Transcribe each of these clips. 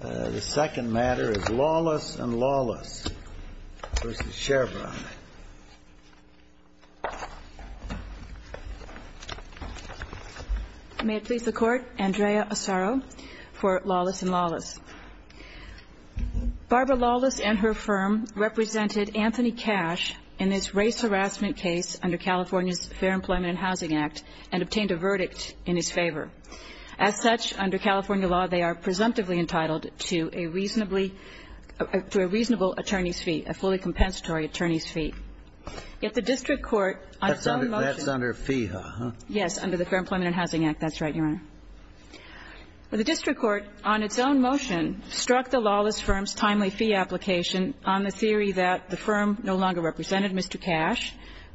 The second matter is Lawless & Lawless v. Chevron. May it please the Court, Andrea Asaro for Lawless & Lawless. Barbara Lawless and her firm represented Anthony Cash in this race harassment case under California's Fair Employment and Housing Act and obtained a verdict in his favor. As such, under California law, they are presumptively entitled to a reasonable attorney's fee, a fully compensatory attorney's fee. Yet the district court on its own motion... That's under fee, huh? Yes, under the Fair Employment and Housing Act. That's right, Your Honor. The district court on its own motion struck the lawless firm's timely fee application on the theory that the firm no longer represented Mr. Cash,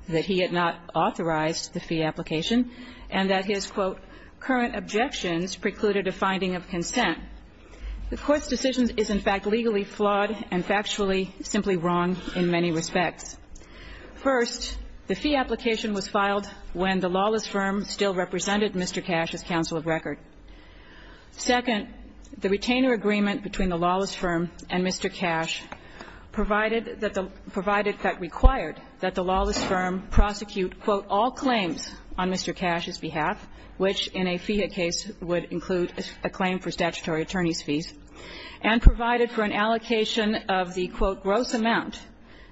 that he had not authorized the fee application, and that his, quote, current objections precluded a finding of consent. The Court's decision is, in fact, legally flawed and factually simply wrong in many respects. First, the fee application was filed when the lawless firm still represented Mr. Cash's counsel of record. Second, the retainer agreement between the lawless firm and Mr. Cash provided that the lawless firm prosecute, quote, all claims on Mr. Cash's behalf, which in a FIHA case would include a claim for statutory attorney's fees, and provided for an allocation of the, quote, gross amount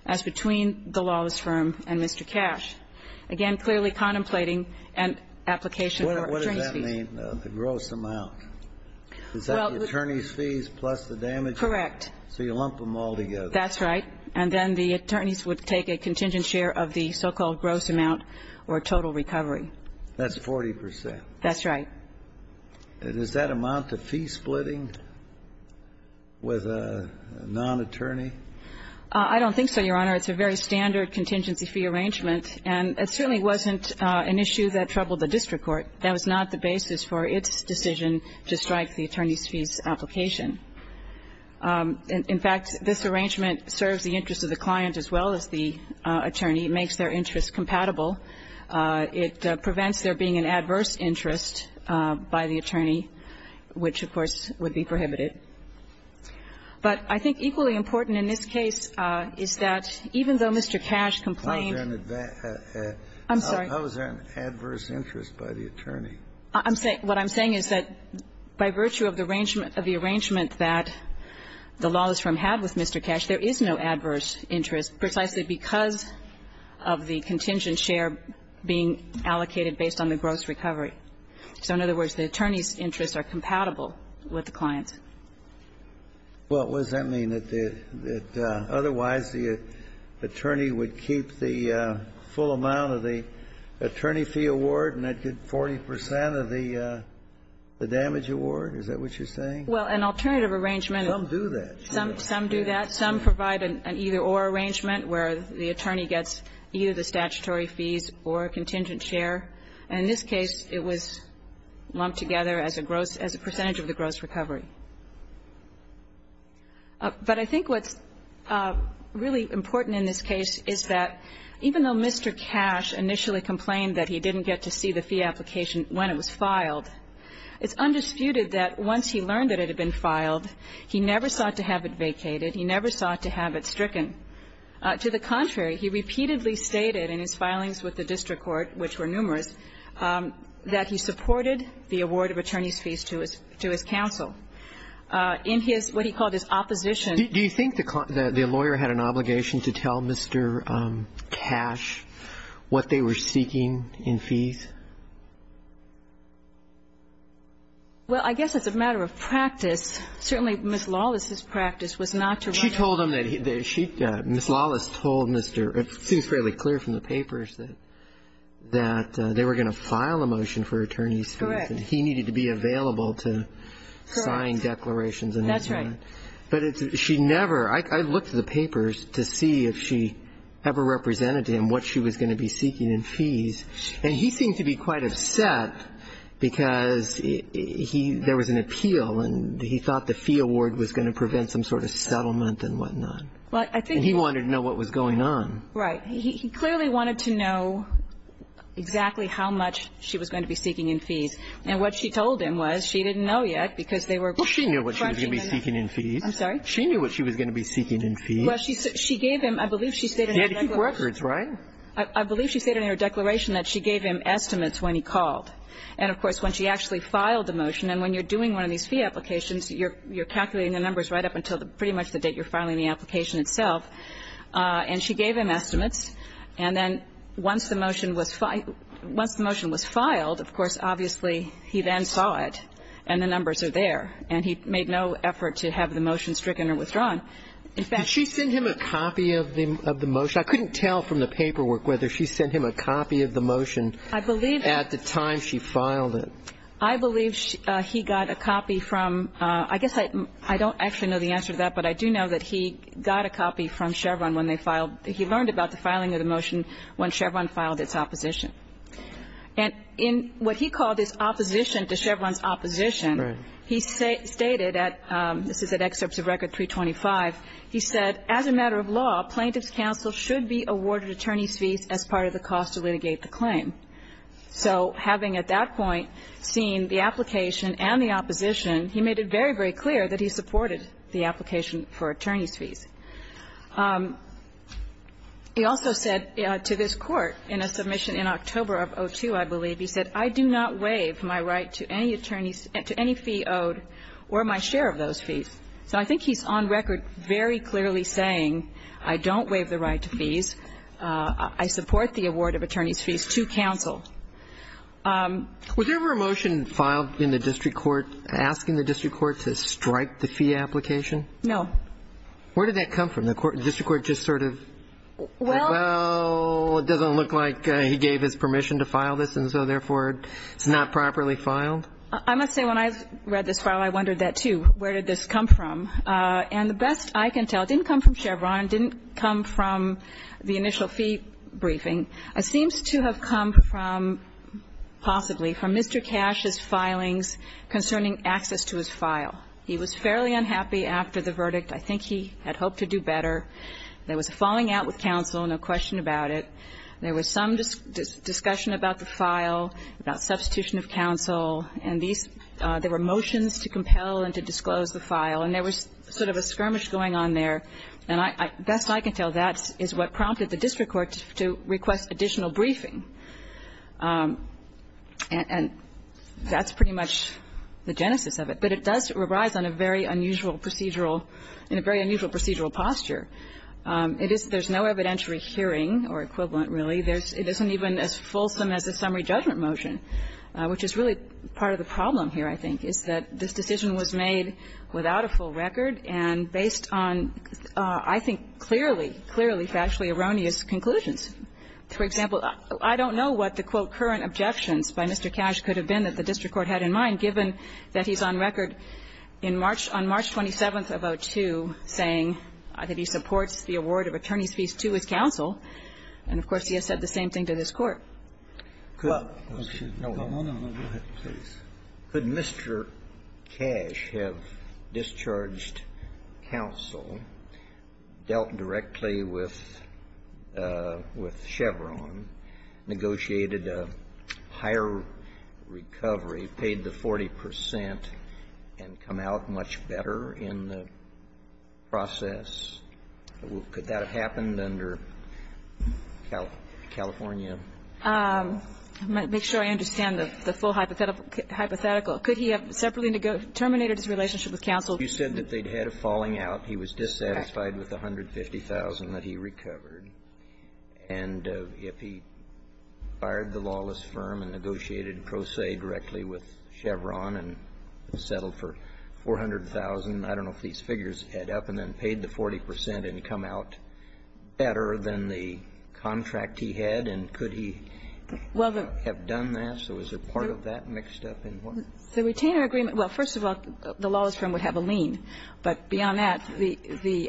as between the lawless firm and Mr. Cash. So you're saying the gross amount, is that the attorney's fees plus the damages? Correct. So you lump them all together. That's right. And then the attorneys would take a contingent share of the so-called gross amount or total recovery. That's 40 percent. That's right. Is that amount to fee splitting with a non-attorney? I don't think so, Your Honor. It's a very standard contingency fee arrangement. And it certainly wasn't an issue that troubled the district court. That was not the basis for its decision to strike the attorney's fees application. In fact, this arrangement serves the interest of the client as well as the attorney. It makes their interest compatible. It prevents there being an adverse interest by the attorney, which, of course, would be prohibited. But I think equally important in this case is that even though Mr. Cash complained I'm sorry. How is there an adverse interest by the attorney? What I'm saying is that by virtue of the arrangement that the lawless firm had with Mr. Cash, there is no adverse interest precisely because of the contingent share being allocated based on the gross recovery. So in other words, the attorney's interests are compatible with the client's. Well, what does that mean? That otherwise the attorney would keep the full amount of the attorney fee award and I'd get 40 percent of the damage award? Is that what you're saying? Well, an alternative arrangement. Some do that. Some do that. Some provide an either-or arrangement where the attorney gets either the statutory fees or a contingent share. In this case, it was lumped together as a percentage of the gross recovery. But I think what's really important in this case is that even though Mr. Cash initially complained that he didn't get to see the fee application when it was filed, it's undisputed that once he learned that it had been filed, he never sought to have it vacated. He never sought to have it stricken. To the contrary, he repeatedly stated in his filings with the district court, which were numerous, that he supported the award of attorney's fees to his counsel. In his, what he called his opposition to the court. Do you think the lawyer had an obligation to tell Mr. Cash what they were seeking in fees? Well, I guess it's a matter of practice. Certainly, Ms. Lawless's practice was not to rush. She told him that she, Ms. Lawless told Mr. It seems fairly clear from the papers that they were going to file a motion for attorney's fees. Correct. And he needed to be available to sign declarations. That's right. But she never, I looked at the papers to see if she ever represented him what she was going to be seeking in fees. Well, I think. And he wanted to know what was going on. Right. He clearly wanted to know exactly how much she was going to be seeking in fees. And what she told him was she didn't know yet because they were. Well, she knew what she was going to be seeking in fees. I'm sorry. She knew what she was going to be seeking in fees. Well, she gave him, I believe she stated. He had a few records, right? I believe she stated in her declaration that she gave him estimates when he called. And, of course, when she actually filed the motion, and when you're doing one of these fee applications, you're calculating the numbers right up until pretty much the date you're filing the application itself. And she gave him estimates. And then once the motion was filed, of course, obviously, he then saw it. And the numbers are there. And he made no effort to have the motion stricken or withdrawn. In fact. Did she send him a copy of the motion? I couldn't tell from the paperwork whether she sent him a copy of the motion. I believe. At the time she filed it. I believe he got a copy from, I guess I don't actually know the answer to that, but I do know that he got a copy from Chevron when they filed. He learned about the filing of the motion when Chevron filed its opposition. And in what he called his opposition to Chevron's opposition. Right. He stated at, this is at excerpts of Record 325. He said, As a matter of law, plaintiff's counsel should be awarded attorney's fees as part of the cost to litigate the claim. So having at that point seen the application and the opposition, he made it very, very clear that he supported the application for attorney's fees. He also said to this Court in a submission in October of 2002, I believe, he said, I do not waive my right to any attorneys to any fee owed or my share of those fees. So I think he's on record very clearly saying, I don't waive the right to fees. I support the award of attorney's fees to counsel. Was there ever a motion filed in the district court asking the district court to strike the fee application? No. Where did that come from? The district court just sort of, well, it doesn't look like he gave his permission to file this, and so, therefore, it's not properly filed? I must say, when I read this file, I wondered that, too. Where did this come from? And the best I can tell, it didn't come from Chevron, it didn't come from the initial fee briefing. It seems to have come from, possibly, from Mr. Cash's filings concerning access to his file. He was fairly unhappy after the verdict. I think he had hoped to do better. There was a falling out with counsel, no question about it. There was some discussion about the file, about substitution of counsel, and there were motions to compel and to disclose the file. And there was sort of a skirmish going on there. And the best I can tell, that is what prompted the district court to request additional briefing. And that's pretty much the genesis of it. But it does arise on a very unusual procedural – in a very unusual procedural posture. It is – there's no evidentiary hearing or equivalent, really. It isn't even as fulsome as a summary judgment motion, which is really part of the problem here, I think, is that this decision was made without a full record and based on, I think, clearly, clearly, factually erroneous conclusions. For example, I don't know what the, quote, current objections by Mr. Cash could have been that the district court had in mind, given that he's on record in March – on March 27th of 2002 saying that he supports the award of attorney's fees to his counsel. And, of course, he has said the same thing to this Court. Could Mr. Cash have discharged counsel, dealt directly with Chevron, negotiated a higher recovery, paid the 40 percent, and come out much better in the process? Could that have happened under California? I'll make sure I understand the full hypothetical. Could he have separately terminated his relationship with counsel? You said that they'd had a falling out. He was dissatisfied with the 150,000 that he recovered. And if he fired the lawless firm and negotiated pro se directly with Chevron and settled for 400,000, I don't know if these figures add up, and then paid the 40 percent and come out better than the contract he had, and could he have done that? So is there part of that mixed up in what? The retainer agreement – well, first of all, the lawless firm would have a lien. But beyond that, the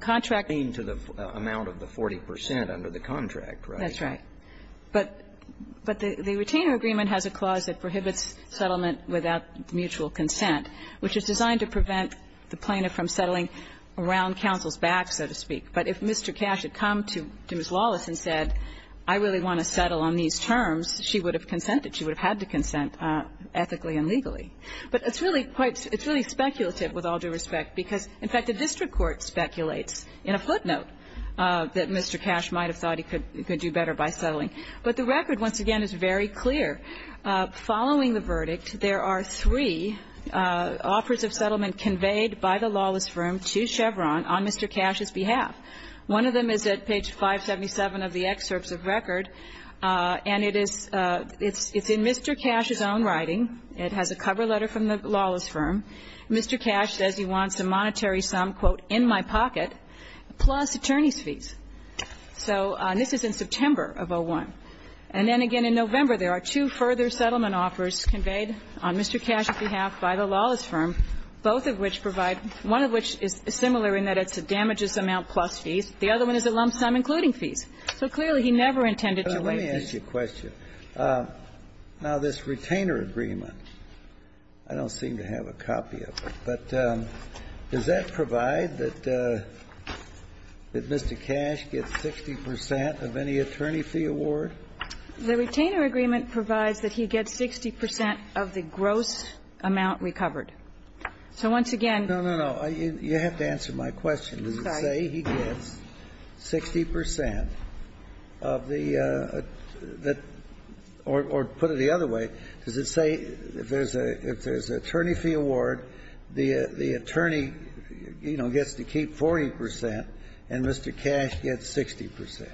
contract – A lien to the amount of the 40 percent under the contract, right? That's right. But the retainer agreement has a clause that prohibits settlement without mutual consent, which is designed to prevent the plaintiff from settling around counsel's back, so to speak. But if Mr. Cash had come to Ms. Lawless and said, I really want to settle on these terms, she would have consented. She would have had to consent ethically and legally. But it's really quite – it's really speculative, with all due respect, because, in fact, the district court speculates in a footnote that Mr. Cash might have thought he could do better by settling. But the record, once again, is very clear. Following the verdict, there are three offers of settlement conveyed by the lawless firm to Chevron on Mr. Cash's behalf. One of them is at page 577 of the excerpts of record, and it is – it's in Mr. Cash's own writing. It has a cover letter from the lawless firm. Mr. Cash says he wants a monetary sum, quote, in my pocket, plus attorney's fees. So – and this is in September of 2001. And then again in November, there are two further settlement offers conveyed on Mr. Cash's behalf by the lawless firm, both of which provide – one of which is similar in that it's a damages amount plus fees. The other one is a lump sum including fees. So clearly, he never intended to waive these. Kennedy. Let me ask you a question. Now, this retainer agreement, I don't seem to have a copy of it, but does that provide that Mr. Cash gets 60 percent of any attorney fee award? The retainer agreement provides that he gets 60 percent of the gross amount recovered. So once again – No, no, no. You have to answer my question. Sorry. Does it say he gets 60 percent of the – or put it the other way, does it say if there's an attorney fee award, the attorney, you know, gets to keep 40 percent and Mr. Cash gets 60 percent?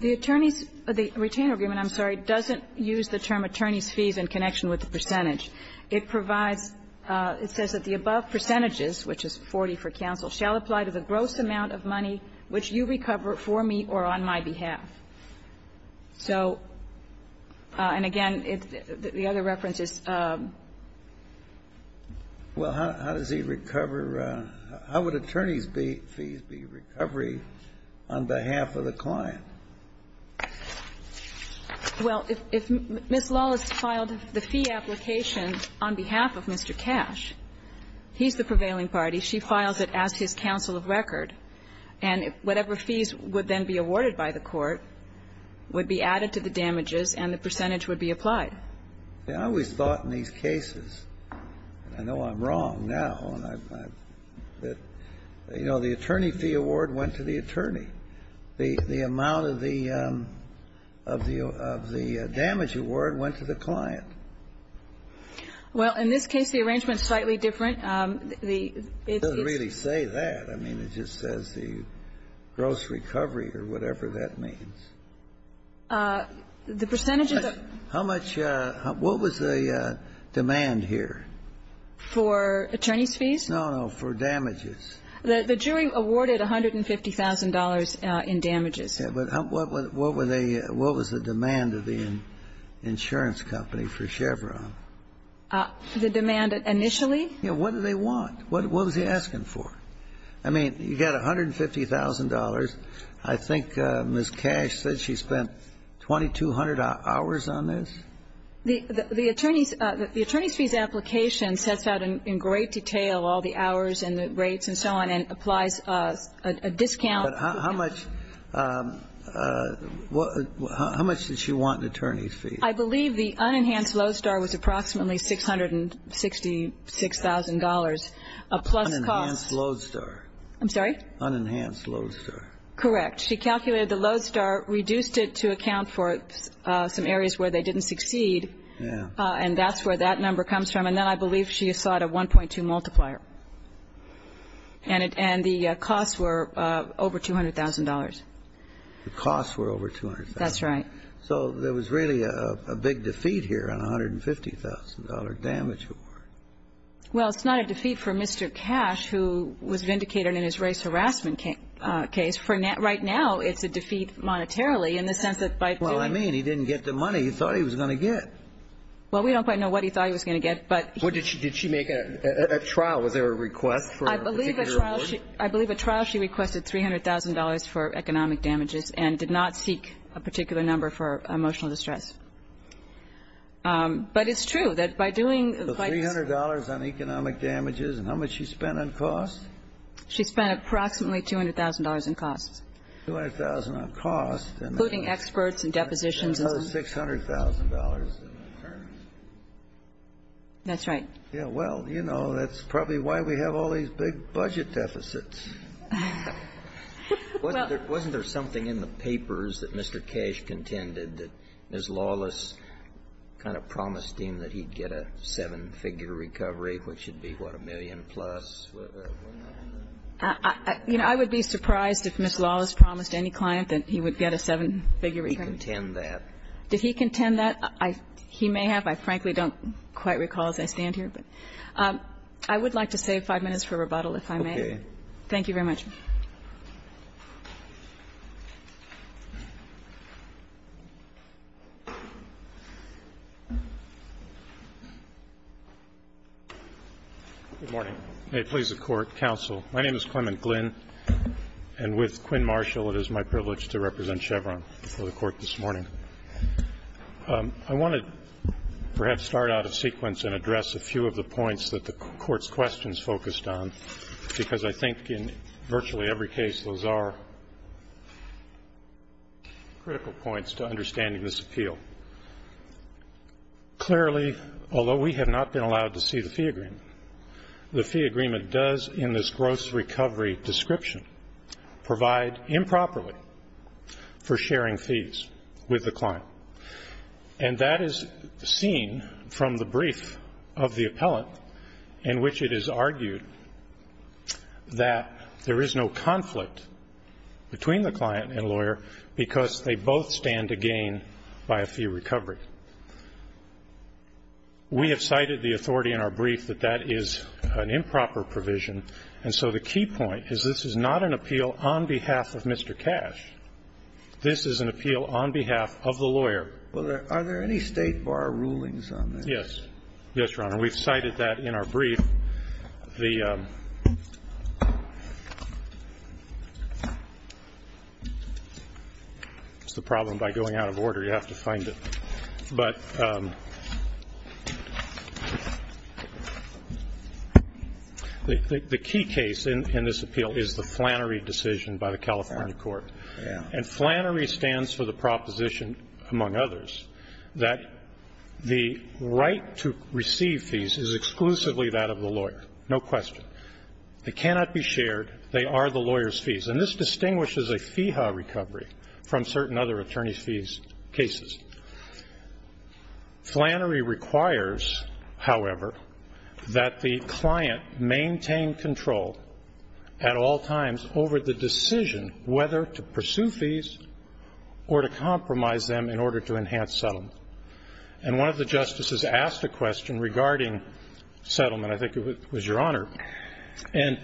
The attorney's – the retainer agreement, I'm sorry, doesn't use the term attorney's fees in connection with the percentage. It provides – it says that the above percentages, which is 40 for counsel, shall apply to the gross amount of money which you recover for me or on my behalf. So – and again, the other reference is – Well, how does he recover – how would attorney's fees be recovery on behalf of the client? Well, if Ms. Lawless filed the fee application on behalf of Mr. Cash, he's the prevailing party. She files it as his counsel of record. And whatever fees would then be awarded by the court would be added to the damages and the percentage would be applied. I always thought in these cases – and I know I'm wrong now – that, you know, the attorney fee award went to the attorney. The amount of the – of the damage award went to the client. Well, in this case, the arrangement is slightly different. It doesn't really say that. I mean, it just says the gross recovery or whatever that means. The percentage of the – How much – what was the demand here? For attorney's fees? No, no. For damages. The jury awarded $150,000 in damages. Yeah, but what were they – what was the demand of the insurance company for Chevron? The demand initially? Yeah. What do they want? What was he asking for? I mean, you got $150,000. I think Ms. Cash said she spent 2,200 hours on this? The attorney's – the attorney's fees application sets out in great detail all the hours and the rates and so on and applies a discount. But how much – how much did she want in attorney's fees? I believe the unenhanced Lowe's Star was approximately $666,000, a plus cost. Unenhanced Lowe's Star. I'm sorry? Unenhanced Lowe's Star. Correct. She calculated the Lowe's Star, reduced it to account for some areas where they didn't succeed. Yeah. And that's where that number comes from. And then I believe she sought a 1.2 multiplier. And the costs were over $200,000. The costs were over $200,000. That's right. So there was really a big defeat here on a $150,000 damage award. Well, it's not a defeat for Mr. Cash, who was vindicated in his race harassment case. Right now it's a defeat monetarily in the sense that by doing – Well, I mean, he didn't get the money he thought he was going to get. Well, we don't quite know what he thought he was going to get, but – Did she make a trial? Was there a request for a particular award? I believe a trial she requested $300,000 for economic damages and did not seek a particular number for emotional distress. But it's true that by doing – So $300,000 on economic damages, and how much she spent on costs? She spent approximately $200,000 on costs. $200,000 on costs. Including experts and depositions. $600,000 in returns. That's right. Yeah. Well, you know, that's probably why we have all these big budget deficits. Wasn't there something in the papers that Mr. Cash contended that Ms. Lawless kind of promised him that he'd get a seven-figure recovery, which would be, what, a million plus? You know, I would be surprised if Ms. Lawless promised any client that he would get a seven-figure recovery. Did he contend that? Did he contend that? He may have. I frankly don't quite recall as I stand here. But I would like to save five minutes for rebuttal, if I may. Thank you very much. Good morning. May it please the Court. Counsel, my name is Clement Glynn. And with Quinn Marshall, it is my privilege to represent Chevron for the Court this morning. I want to perhaps start out a sequence and address a few of the points that the are critical points to understanding this appeal. Clearly, although we have not been allowed to see the fee agreement, the fee agreement does in this gross recovery description provide improperly for sharing fees with the client. And that is seen from the brief of the appellant in which it is argued that there is no conflict between the client and lawyer because they both stand to gain by a fee recovery. We have cited the authority in our brief that that is an improper provision. And so the key point is this is not an appeal on behalf of Mr. Cash. This is an appeal on behalf of the lawyer. Are there any State bar rulings on this? Yes. Yes, Your Honor. And we have cited that in our brief. It's the problem by going out of order. You have to find it. But the key case in this appeal is the Flannery decision by the California Court. And Flannery stands for the proposition, among others, that the right to receive fees is exclusively that of the lawyer. No question. They cannot be shared. They are the lawyer's fees. And this distinguishes a FEHA recovery from certain other attorney's fees cases. Flannery requires, however, that the client maintain control at all times over the decision whether to pursue fees or to compromise them in order to enhance settlement. And one of the justices asked a question regarding settlement. I think it was Your Honor. And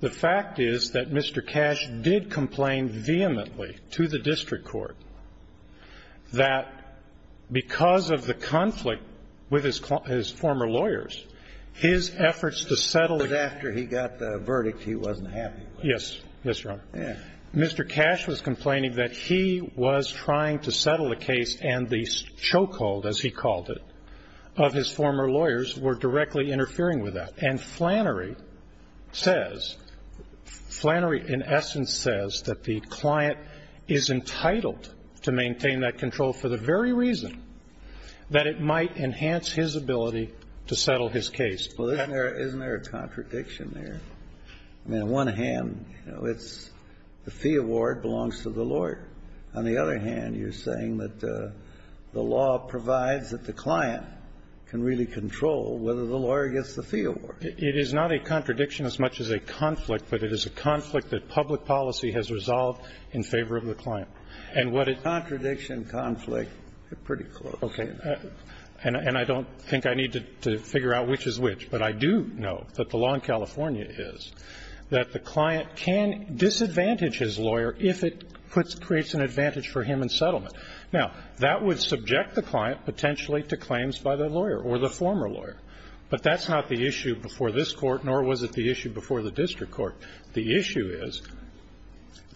the fact is that Mr. Cash did complain vehemently to the district court that because of the conflict with his former lawyers, his efforts to settle the case of the fees were not successful. But after he got the verdict, he wasn't happy. Yes. Yes, Your Honor. Mr. Cash was complaining that he was trying to settle the case and the chokehold, as he called it, of his former lawyers were directly interfering with that. And Flannery says, Flannery in essence says that the client is entitled to maintain that control for the very reason that it might enhance his ability to settle his case. Well, isn't there a contradiction there? I mean, on one hand, you know, it's the fee award belongs to the lawyer. On the other hand, you're saying that the law provides that the client can really control whether the lawyer gets the fee award. It is not a contradiction as much as a conflict, but it is a conflict that public policy has resolved in favor of the client. And what it --. Contradiction, conflict. They're pretty close. Okay. And I don't think I need to figure out which is which. But I do know that the law in California is that the client can disadvantage his lawyer if it creates an advantage for him in settlement. Now, that would subject the client potentially to claims by the lawyer or the former lawyer, but that's not the issue before this Court, nor was it the issue before the district court. The issue is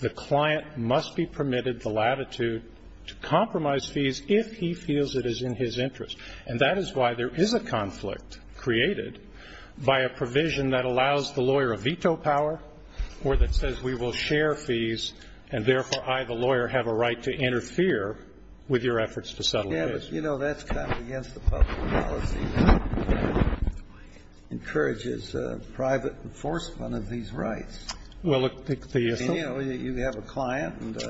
the client must be permitted the latitude to compromise fees if he feels it is in his interest. And that is why there is a conflict created by a provision that allows the lawyer a veto power or that says we will share fees and, therefore, I, the lawyer, have a right to interfere with your efforts to settle fees. Yeah, but, you know, that's kind of against the public policy. It encourages private enforcement of these rights. Well, look, the. You know, you have a client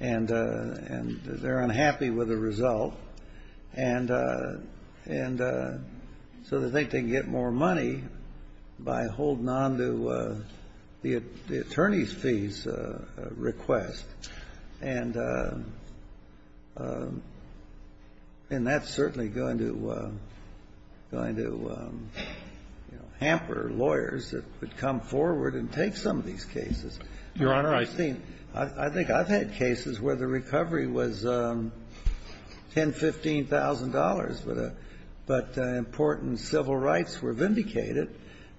and they're unhappy with the result. And so they think they can get more money by holding on to the attorney's fees request. And that's certainly going to, you know, hamper lawyers that would come forward and take some of these cases. Your Honor, I think. I've had cases where the recovery was $10,000, $15,000, but important civil rights were vindicated.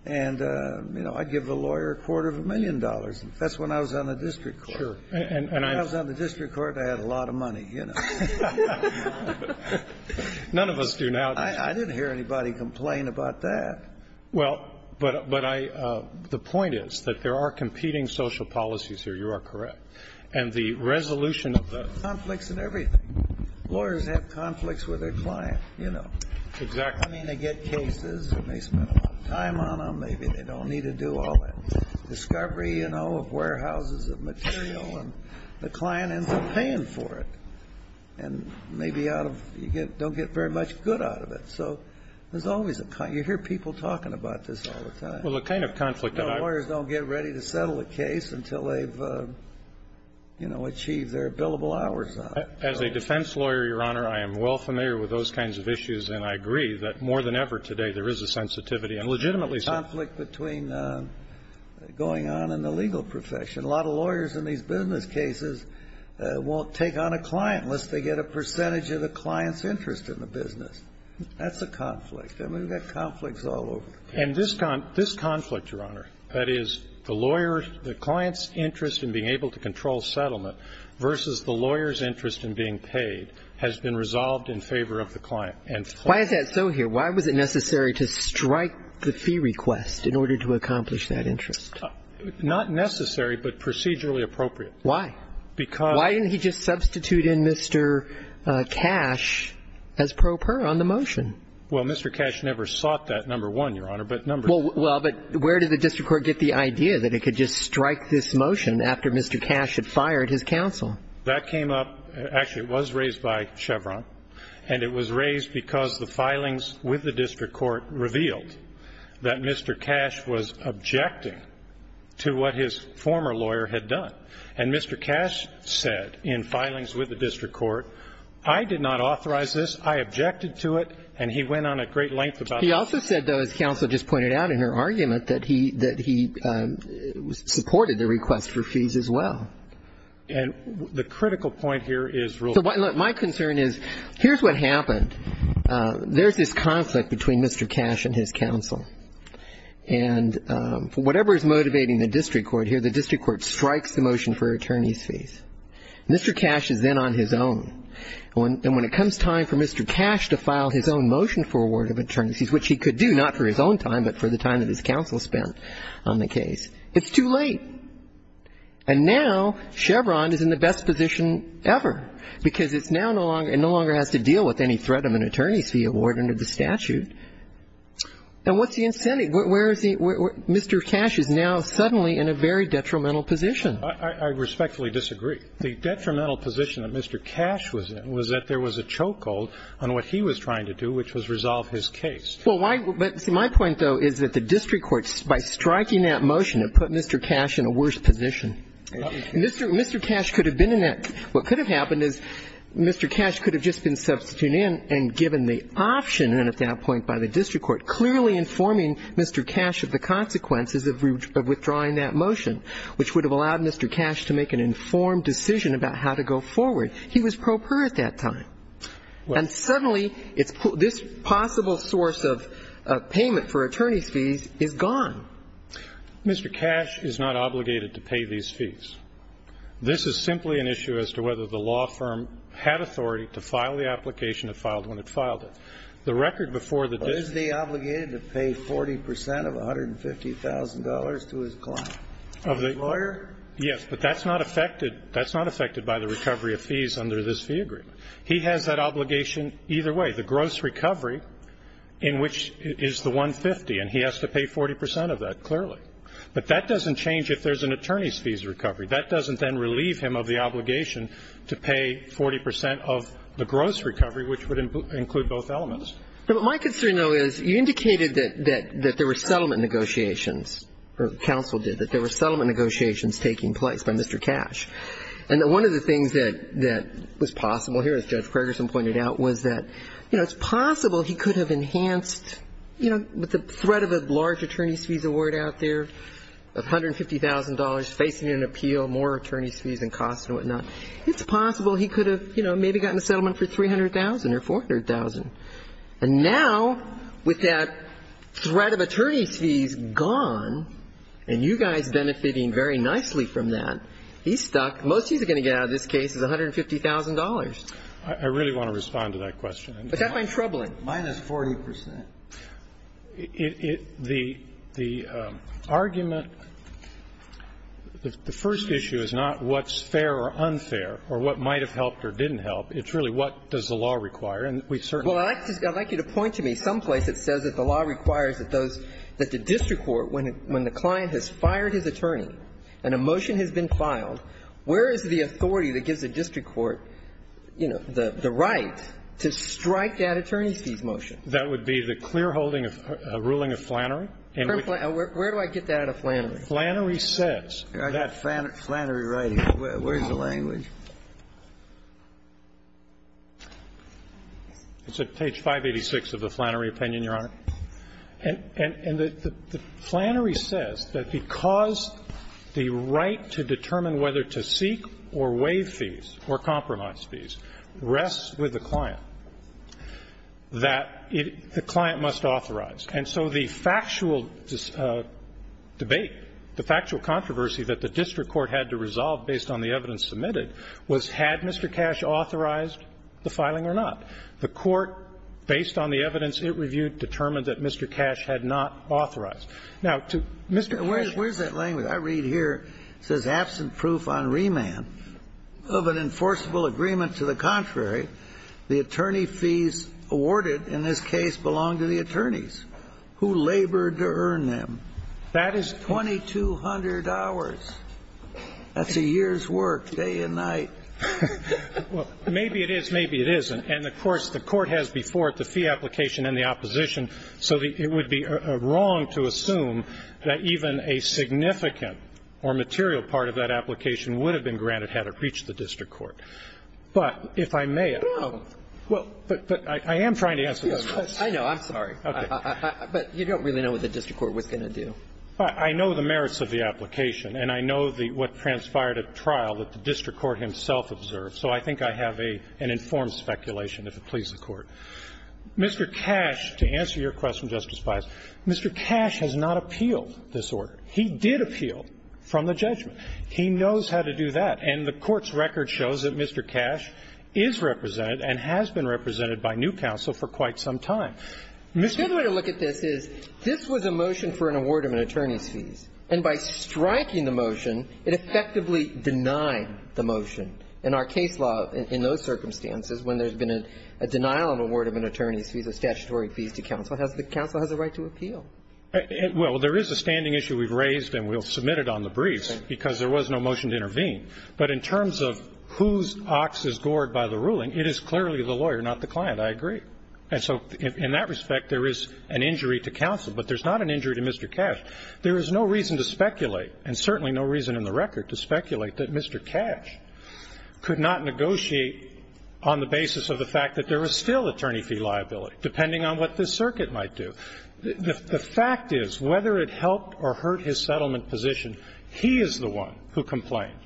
And, you know, I'd give the lawyer a quarter of a million dollars. That's when I was on the district court. Sure. And I was on the district court, I had a lot of money, you know. None of us do now. I didn't hear anybody complain about that. Well, but I, the point is that there are competing social policies here. You are correct. And the resolution of the. Conflicts in everything. Lawyers have conflicts with their client, you know. Exactly. I mean, they get cases. They may spend a lot of time on them. Maybe they don't need to do all that discovery, you know, of warehouses of material. And the client ends up paying for it. And maybe out of, you don't get very much good out of it. So there's always a, you hear people talking about this all the time. Well, the kind of conflict that I. Lawyers don't get ready to settle a case until they've, you know, achieved their billable hours. As a defense lawyer, Your Honor, I am well familiar with those kinds of issues. And I agree that more than ever today there is a sensitivity and legitimately. Conflict between going on in the legal profession. A lot of lawyers in these business cases won't take on a client unless they get a percentage of the client's interest in the business. That's a conflict. I mean, we've got conflicts all over. And this conflict, Your Honor, that is the lawyer, the client's interest in being able to control settlement versus the lawyer's interest in being paid has been resolved in favor of the client. And. Why is that so here? Why was it necessary to strike the fee request in order to accomplish that interest? Not necessary, but procedurally appropriate. Why? Because. Why didn't he just substitute in Mr. Cash as pro per on the motion? Well, Mr. Cash never sought that, number one, Your Honor, but number two. Well, but where did the district court get the idea that it could just strike this motion after Mr. Cash had fired his counsel? That came up. Actually, it was raised by Chevron. And it was raised because the filings with the district court revealed that Mr. Cash was objecting to what his former lawyer had done. And Mr. Cash said in filings with the district court, I did not authorize this. I objected to it. And he went on a great length about it. He also said, though, as counsel just pointed out in her argument, that he supported the request for fees as well. And the critical point here is. My concern is here's what happened. There's this conflict between Mr. Cash and his counsel. And whatever is motivating the district court here, the district court strikes the motion for attorneys' fees. Mr. Cash is then on his own. And when it comes time for Mr. Cash to file his own motion for award of attorneys' fees, which he could do, not for his own time, but for the time that his counsel spent on the case, it's too late. And now Chevron is in the best position ever because it's now no longer, it no longer has to deal with any threat of an attorney's fee award under the statute. And what's the incentive? Where is the Mr. Cash is now suddenly in a very detrimental position. I respectfully disagree. The detrimental position that Mr. Cash was in was that there was a chokehold on what he was trying to do, which was resolve his case. Well, my point, though, is that the district court, by striking that motion, it put Mr. Cash in a worse position. Mr. Cash could have been in that. What could have happened is Mr. Cash could have just been substituted in and given the option. And then at that point by the district court, clearly informing Mr. Cash of the consequences of withdrawing that motion, which would have allowed Mr. Cash to make an informed decision about how to go forward. He was pro per at that time. And suddenly this possible source of payment for attorney's fees is gone. Mr. Cash is not obligated to pay these fees. This is simply an issue as to whether the law firm had authority to file the application that filed when it filed it. The record before the district court. But is he obligated to pay 40 percent of $150,000 to his client? Of the lawyer? Yes, but that's not affected. That's not affected by the recovery of fees under this fee agreement. He has that obligation either way. The gross recovery in which is the 150, and he has to pay 40 percent of that, clearly. But that doesn't change if there's an attorney's fees recovery. That doesn't then relieve him of the obligation to pay 40 percent of the gross recovery, which would include both elements. But my concern, though, is you indicated that there were settlement negotiations or counsel did, that there were settlement negotiations taking place by Mr. Cash. And one of the things that was possible here, as Judge Ferguson pointed out, was that, you know, it's possible he could have enhanced, you know, with the threat of a large attorney's fees award out there of $150,000, facing an appeal, more attorney's fees and costs and whatnot. It's possible he could have, you know, maybe gotten a settlement for $300,000 or $400,000. And now, with that threat of attorney's fees gone, and you guys benefiting very nicely from that, he's stuck. Most he's going to get out of this case is $150,000. I really want to respond to that question. But that might be troubling. Minus 40 percent. The argument, the first issue is not what's fair or unfair or what might have helped or didn't help. It's really what does the law require. And we certainly do. Well, I'd like you to point to me some place that says that the law requires that those, that the district court, when the client has fired his attorney and a motion has been filed, where is the authority that gives the district court, you know, the right to strike that attorney's fees motion? That would be the clear holding of a ruling of Flannery. Where do I get that out of Flannery? Flannery says that. I got Flannery right here. Where's the language? It's at page 586 of the Flannery opinion, Your Honor. And the Flannery says that because the right to determine whether to seek or waive fees or compromise fees rests with the client, that the client must authorize. And so the factual debate, the factual controversy that the district court had to resolve based on the evidence submitted was had Mr. Cash authorized the filing or not. The court, based on the evidence it reviewed, determined that Mr. Cash had not authorized. Now, to Mr. Cash's point. I read here, it says, absent proof on remand of an enforceable agreement to the contrary, the attorney fees awarded in this case belong to the attorneys who labored to earn them. That is 2200 hours. That's a year's work, day and night. Well, maybe it is, maybe it isn't. And, of course, the court has before it the fee application and the opposition, so it would be wrong to assume that even a significant or material part of that application would have been granted had it reached the district court. But if I may, I am trying to answer this question. I know. I'm sorry. But you don't really know what the district court was going to do. I know the merits of the application, and I know what transpired at trial that the district court himself observed. So I think I have an informed speculation, if it pleases the Court. Mr. Cash, to answer your question, Justice Pius, Mr. Cash has not appealed this order. He did appeal from the judgment. He knows how to do that. And the Court's record shows that Mr. Cash is represented and has been represented by new counsel for quite some time. Mr. Pius. The good way to look at this is this was a motion for an award of an attorney's And by striking the motion, it effectively denied the motion. In our case law, in those circumstances, when there's been a denial of award of an attorney's fees or statutory fees to counsel, the counsel has a right to appeal. Well, there is a standing issue we've raised, and we'll submit it on the briefs because there was no motion to intervene. But in terms of whose ox is gored by the ruling, it is clearly the lawyer, not the client. I agree. And so in that respect, there is an injury to counsel, but there's not an injury to Mr. Cash. There is no reason to speculate, and certainly no reason in the record to speculate that Mr. Cash could not negotiate on the basis of the fact that there was still attorney fee liability, depending on what the circuit might do. The fact is, whether it helped or hurt his settlement position, he is the one who complained,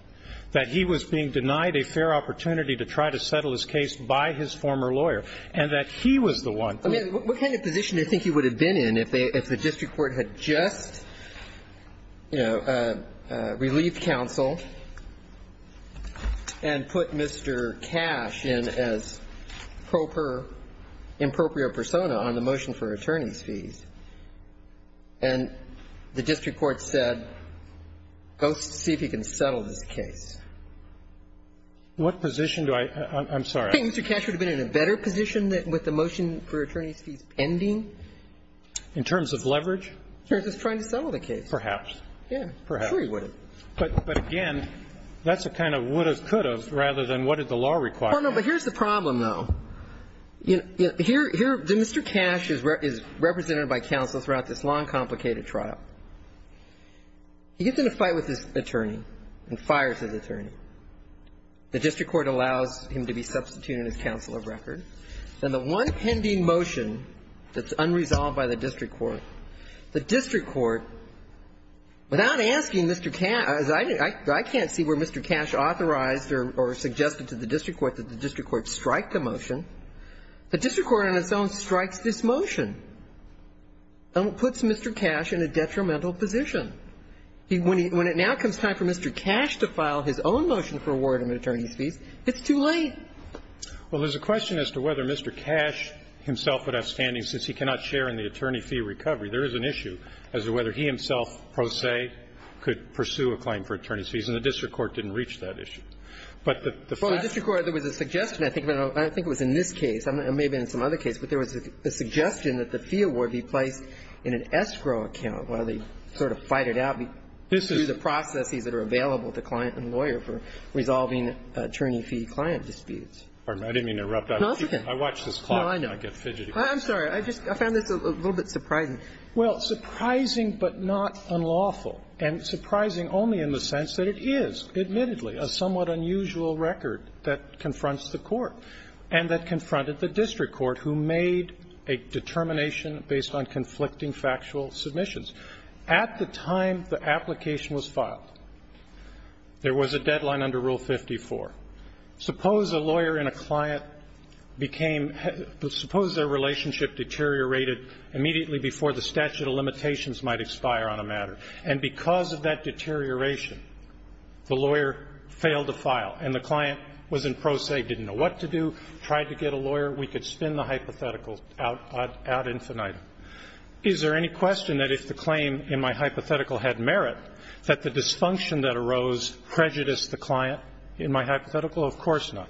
that he was being denied a fair opportunity to try to settle his case by his former lawyer, and that he was the one who ---- I mean, what kind of position do you think he would have been in if the district court had just, you know, relieved counsel and put Mr. Cash in as proper, impropriate persona on the motion for attorney's fees, and the district court said, go see if he can settle this case? What position do I ---- I'm sorry. I think Mr. Cash would have been in a better position with the motion for attorney's fees pending. In terms of leverage? In terms of trying to settle the case. Perhaps. Yeah. Perhaps. Sure he would have. But again, that's a kind of would have, could have rather than what did the law require. Oh, no. But here's the problem, though. Here Mr. Cash is represented by counsel throughout this long, complicated trial. He gets in a fight with his attorney and fires his attorney. The district court allows him to be substituted as counsel of record. And the one pending motion that's unresolved by the district court, the district court, without asking Mr. Cash, I can't see where Mr. Cash authorized or suggested to the district court that the district court strike the motion. The district court on its own strikes this motion and puts Mr. Cash in a detrimental position. When it now comes time for Mr. Cash to file his own motion for award of attorney's fees, it's too late. Well, there's a question as to whether Mr. Cash himself would have standing since he cannot share in the attorney fee recovery. There is an issue as to whether he himself, pro se, could pursue a claim for attorney's fees. And the district court didn't reach that issue. But the fact that the district court, there was a suggestion, I think, and I don't think it was in this case. It may have been in some other case. But there was a suggestion that the fee award be placed in an escrow account while they sort of fight it out through the processes that are available to client and lawyer for resolving attorney fee client disputes. I didn't mean to interrupt. I watch this clock and I get fidgety. I'm sorry. I just found this a little bit surprising. Well, surprising but not unlawful. And surprising only in the sense that it is, admittedly, a somewhat unusual record that confronts the court and that confronted the district court, who made a determination based on conflicting factual submissions. At the time the application was filed, there was a deadline under Rule 54. Suppose a lawyer and a client became – suppose their relationship deteriorated immediately before the statute of limitations might expire on a matter. And because of that deterioration, the lawyer failed to file and the client was in pro se, didn't know what to do, tried to get a lawyer. We could spin the hypothetical out infinite. Is there any question that if the claim in my hypothetical had merit, that the dysfunction that arose prejudiced the client in my hypothetical? Of course not.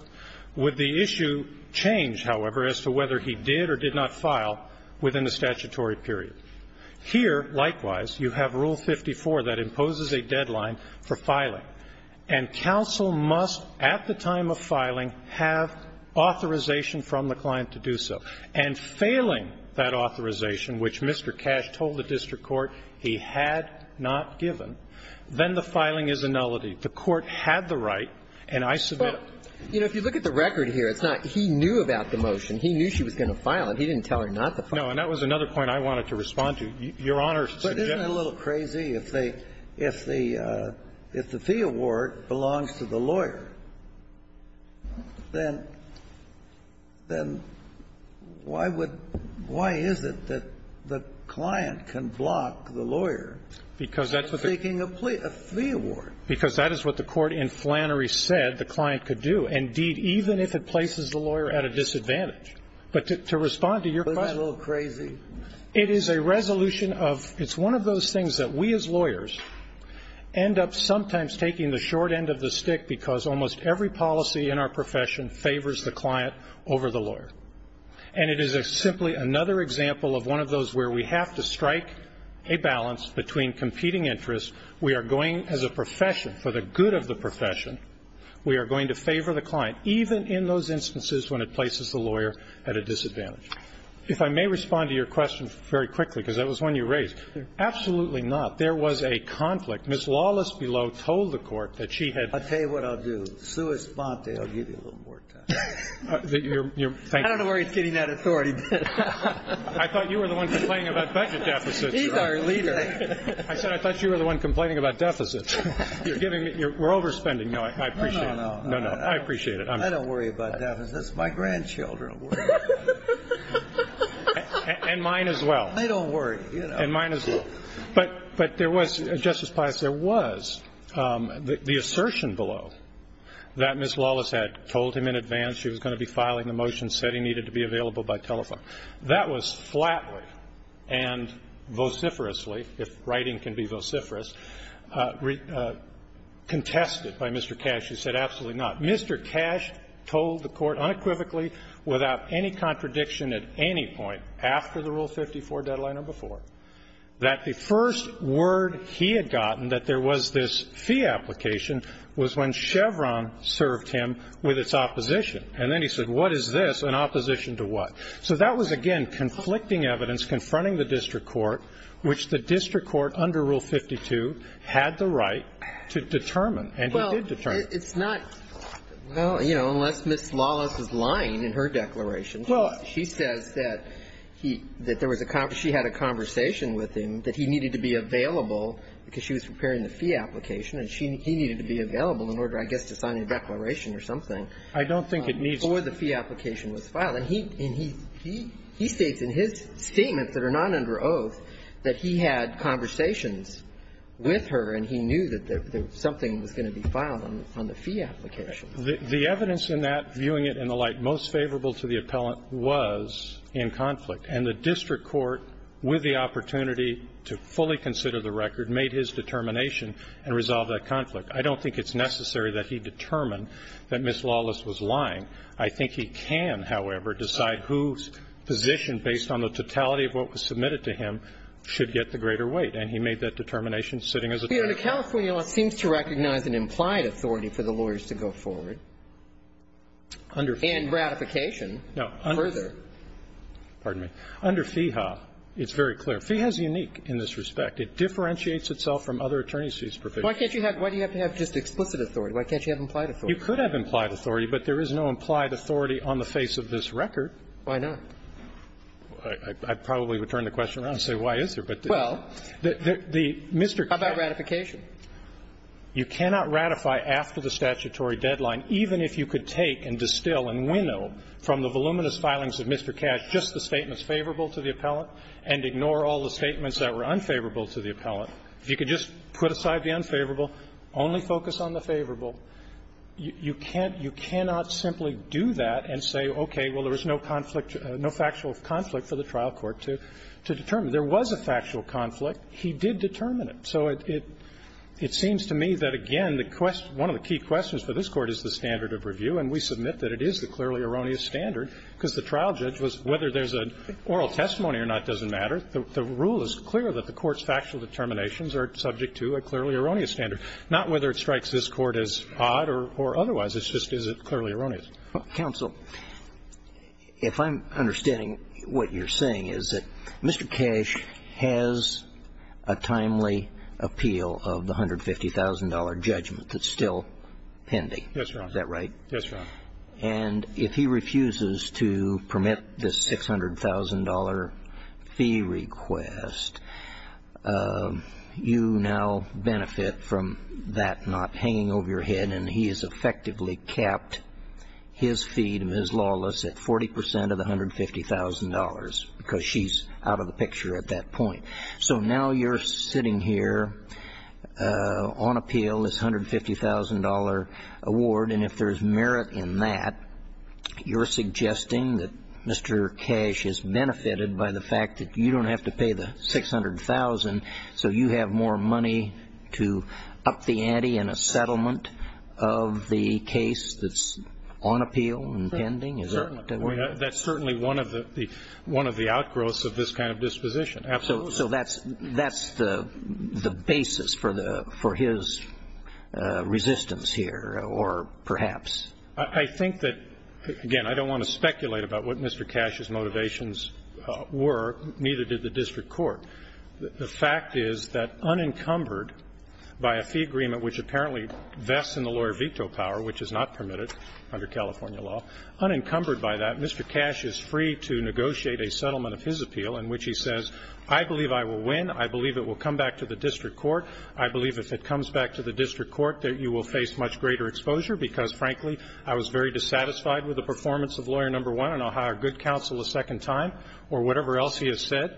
Would the issue change, however, as to whether he did or did not file within a statutory period? Here, likewise, you have Rule 54 that imposes a deadline for filing. And counsel must, at the time of filing, have authorization from the client to do so. And failing that authorization, which Mr. Cash told the district court he had not given, then the filing is a nullity. The court had the right, and I submit it. Well, you know, if you look at the record here, it's not he knew about the motion. He knew she was going to file it. He didn't tell her not to file it. No. And that was another point I wanted to respond to. Your Honor's suggestion is a little crazy. If the fee award belongs to the lawyer, then why would why is it that the client can block the lawyer from seeking a fee award? Because that's what the court in Flannery said the client could do, indeed, even if it places the lawyer at a disadvantage. But to respond to your question. Isn't that a little crazy? It is a resolution of, it's one of those things that we as lawyers end up sometimes taking the short end of the stick because almost every policy in our profession favors the client over the lawyer. And it is simply another example of one of those where we have to strike a balance between competing interests. We are going, as a profession, for the good of the profession, we are going to favor the client, even in those instances when it places the lawyer at a disadvantage. If I may respond to your question very quickly, because that was one you raised. Absolutely not. There was a conflict. Ms. Lawless-Below told the Court that she had. I'll tell you what I'll do. Suis ponte. I'll give you a little more time. I don't know where he's getting that authority. I thought you were the one complaining about budget deficits. He's our leader. I said I thought you were the one complaining about deficits. You're giving me, we're overspending. No, I appreciate it. No, no, no. I appreciate it. I don't worry about deficits. My grandchildren worry about deficits. And mine as well. They don't worry. And mine as well. But there was, Justice Pius, there was the assertion below that Ms. Lawless had told him in advance she was going to be filing the motion, said he needed to be available by telephone. That was flatly and vociferously, if writing can be vociferous, contested by Mr. Cash, who said absolutely not. Mr. Cash told the Court unequivocally, without any contradiction at any point, after the Rule 54 deadline or before, that the first word he had gotten that there was this fee application was when Chevron served him with its opposition. And then he said, what is this in opposition to what? So that was, again, conflicting evidence confronting the district court, which the district court under Rule 52 had the right to determine, and he did determine. It's not, well, you know, unless Ms. Lawless is lying in her declaration. She says that he, that there was a, she had a conversation with him that he needed to be available because she was preparing the fee application and he needed to be available in order, I guess, to sign a declaration or something. I don't think it needs to be. Before the fee application was filed. And he states in his statements that are not under oath that he had conversations with her and he knew that something was going to be filed on the fee application. The evidence in that, viewing it in the light most favorable to the appellant, was in conflict. And the district court, with the opportunity to fully consider the record, made his determination and resolved that conflict. I don't think it's necessary that he determine that Ms. Lawless was lying. I think he can, however, decide whose position, based on the totality of what was submitted to him, should get the greater weight. And he made that determination sitting as attorney. But the California law seems to recognize an implied authority for the lawyers to go forward and ratification further. No. Pardon me. Under FEHA, it's very clear. FEHA is unique in this respect. It differentiates itself from other attorney's fees provisions. Why can't you have, why do you have to have just explicit authority? Why can't you have implied authority? You could have implied authority, but there is no implied authority on the face of this record. Why not? I probably would turn the question around and say, why is there? Well, how about ratification? You cannot ratify after the statutory deadline, even if you could take and distill and winnow from the voluminous filings of Mr. Cash just the statements favorable to the appellant and ignore all the statements that were unfavorable to the appellant. If you could just put aside the unfavorable, only focus on the favorable, you can't you cannot simply do that and say, okay, well, there was no conflict, no factual conflict for the trial court to determine. There was a factual conflict. He did determine it. So it seems to me that, again, the question, one of the key questions for this Court is the standard of review, and we submit that it is the clearly erroneous standard because the trial judge was, whether there's an oral testimony or not doesn't matter. The rule is clear that the Court's factual determinations are subject to a clearly erroneous standard, not whether it strikes this Court as odd or otherwise. It's just, is it clearly erroneous? Counsel, if I'm understanding what you're saying, is that Mr. Cash has a timely appeal of the $150,000 judgment that's still pending. Yes, Your Honor. Is that right? Yes, Your Honor. And if he refuses to permit this $600,000 fee request, you now benefit from that benefit, and you're not hanging over your head, and he has effectively kept his fee to Ms. Lawless at 40% of the $150,000 because she's out of the picture at that point. So now you're sitting here on appeal, this $150,000 award, and if there's merit in that, you're suggesting that Mr. Cash is benefited by the fact that you don't have to pay the $600,000, so you have more money to up the ante in a settlement of the case that's on appeal and pending? That's certainly one of the outgrowths of this kind of disposition. Absolutely. So that's the basis for his resistance here, or perhaps? I think that, again, I don't want to speculate about what Mr. Cash's motivations were, neither did the district court. The fact is that unencumbered by a fee agreement which apparently vests in the lawyer veto power, which is not permitted under California law, unencumbered by that, Mr. Cash is free to negotiate a settlement of his appeal in which he says, I believe I will win. I believe it will come back to the district court. I believe if it comes back to the district court that you will face much greater exposure because, frankly, I was very dissatisfied with the performance of lawyer number one, and I'll hire good counsel a second time, or whatever else he has said.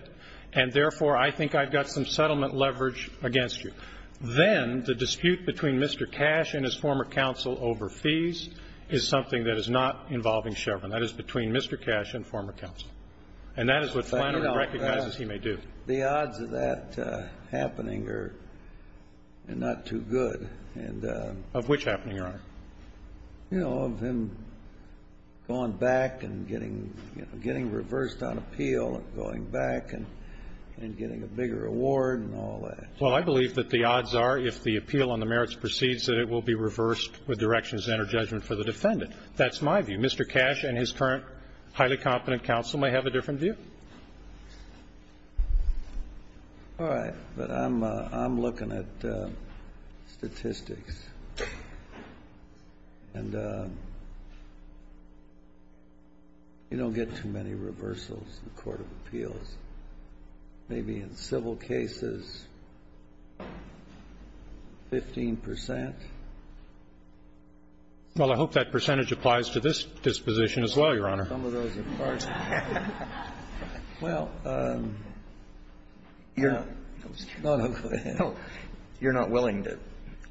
And therefore, I think I've got some settlement leverage against you. Then the dispute between Mr. Cash and his former counsel over fees is something that is not involving Chevron. That is between Mr. Cash and former counsel. And that is what Flannery recognizes he may do. The odds of that happening are not too good. Of which happening, Your Honor? You know, of him going back and getting, you know, getting reversed on appeal and going back and getting a bigger award and all that. Well, I believe that the odds are, if the appeal on the merits proceeds, that it will be reversed with directions and or judgment for the defendant. That's my view. Mr. Cash and his current highly competent counsel may have a different view. All right. But I'm looking at statistics. And you don't get too many reversals in the court of appeals. Maybe in civil cases, 15 percent. Well, I hope that percentage applies to this disposition as well, Your Honor. Some of those are partial. Well, you're not willing to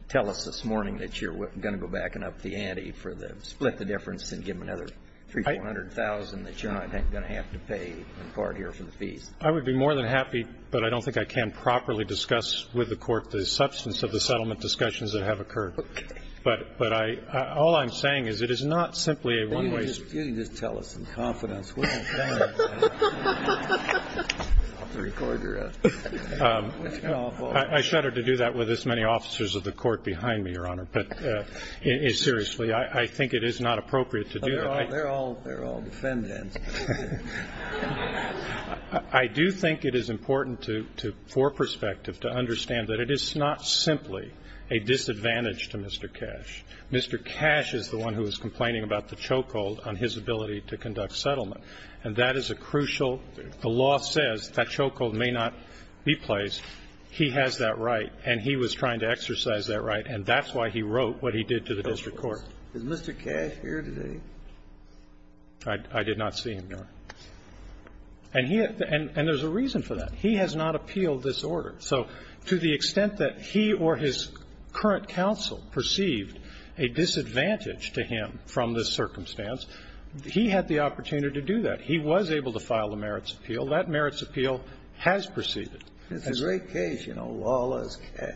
tell us this morning that you're going to go back and up the ante for the split the difference and give them another $300,000, $400,000 that you're not going to have to pay in part here for the fees. I would be more than happy, but I don't think I can properly discuss with the Court the substance of the settlement discussions that have occurred. Okay. But I all I'm saying is it is not simply a one-way street. You can just tell us in confidence. I'll have to record your answer. I shudder to do that with this many officers of the Court behind me, Your Honor. But seriously, I think it is not appropriate to do that. They're all defendants. I do think it is important to for perspective to understand that it is not simply a disadvantage to Mr. Cash. Mr. Cash is the one who is complaining about the chokehold on his ability to conduct settlement. And that is a crucial the law says that chokehold may not be placed. He has that right. And he was trying to exercise that right. And that's why he wrote what he did to the district court. Is Mr. Cash here today? I did not see him, Your Honor. And he and there's a reason for that. He has not appealed this order. So to the extent that he or his current counsel perceived a disadvantage to him from this circumstance, he had the opportunity to do that. He was able to file the merits appeal. That merits appeal has proceeded. It's a great case, you know, Lawless Cash.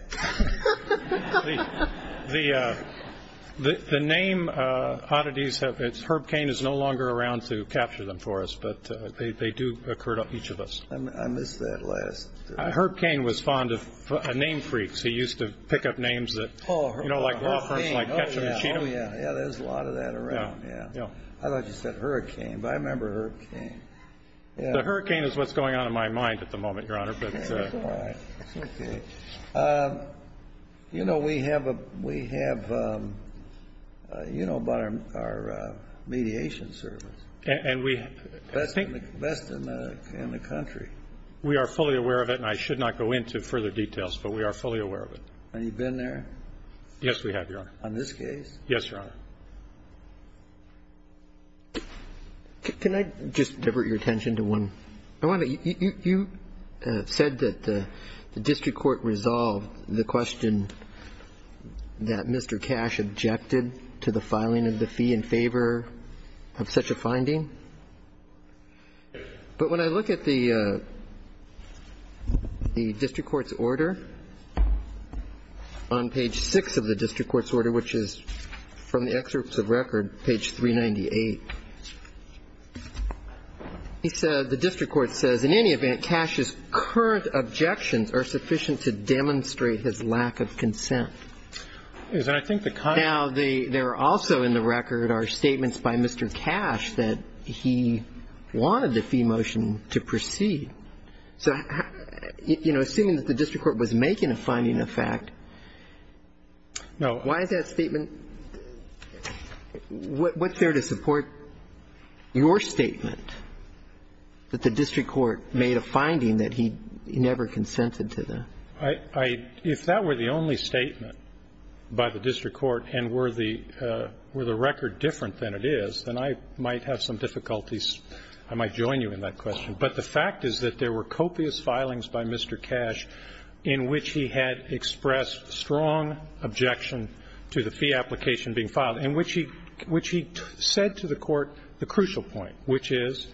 The name oddities, Herb Cain is no longer around to capture them for us, but they do occur to each of us. I missed that last. Herb Cain was fond of name freaks. He used to pick up names that, you know, like law firms like Ketchum and Cheatham. Yeah, there's a lot of that around. Yeah, I thought you said Hurricane, but I remember Herb Cain. The Hurricane is what's going on in my mind at the moment, Your Honor. But, you know, we have, you know about our mediation service. Best in the country. We are fully aware of it, and I should not go into further details, but we are fully aware of it. Have you been there? Yes, we have, Your Honor. On this case? Yes, Your Honor. Can I just divert your attention to one? You said that the district court resolved the question that Mr. Cash objected to the filing of the fee in favor of such a finding. But when I look at the district court's order on page 6 of the district court's order, which is from the excerpts of record, page 398, the district court says, in any event, Cash's current objections are sufficient to demonstrate his lack of consent. Now, there also in the record are statements by Mr. Cash that he wanted the fee motion to proceed. So, you know, assuming that the district court was making a finding of fact, why is that statement? What's there to support your statement that the district court made a finding that he never consented to that? If that were the only statement by the district court, and were the record different than it is, then I might have some difficulties. I might join you in that question. But the fact is that there were copious filings by Mr. Cash in which he had expressed strong objection to the fee application being filed, in which he said to the court the crucial point, which is,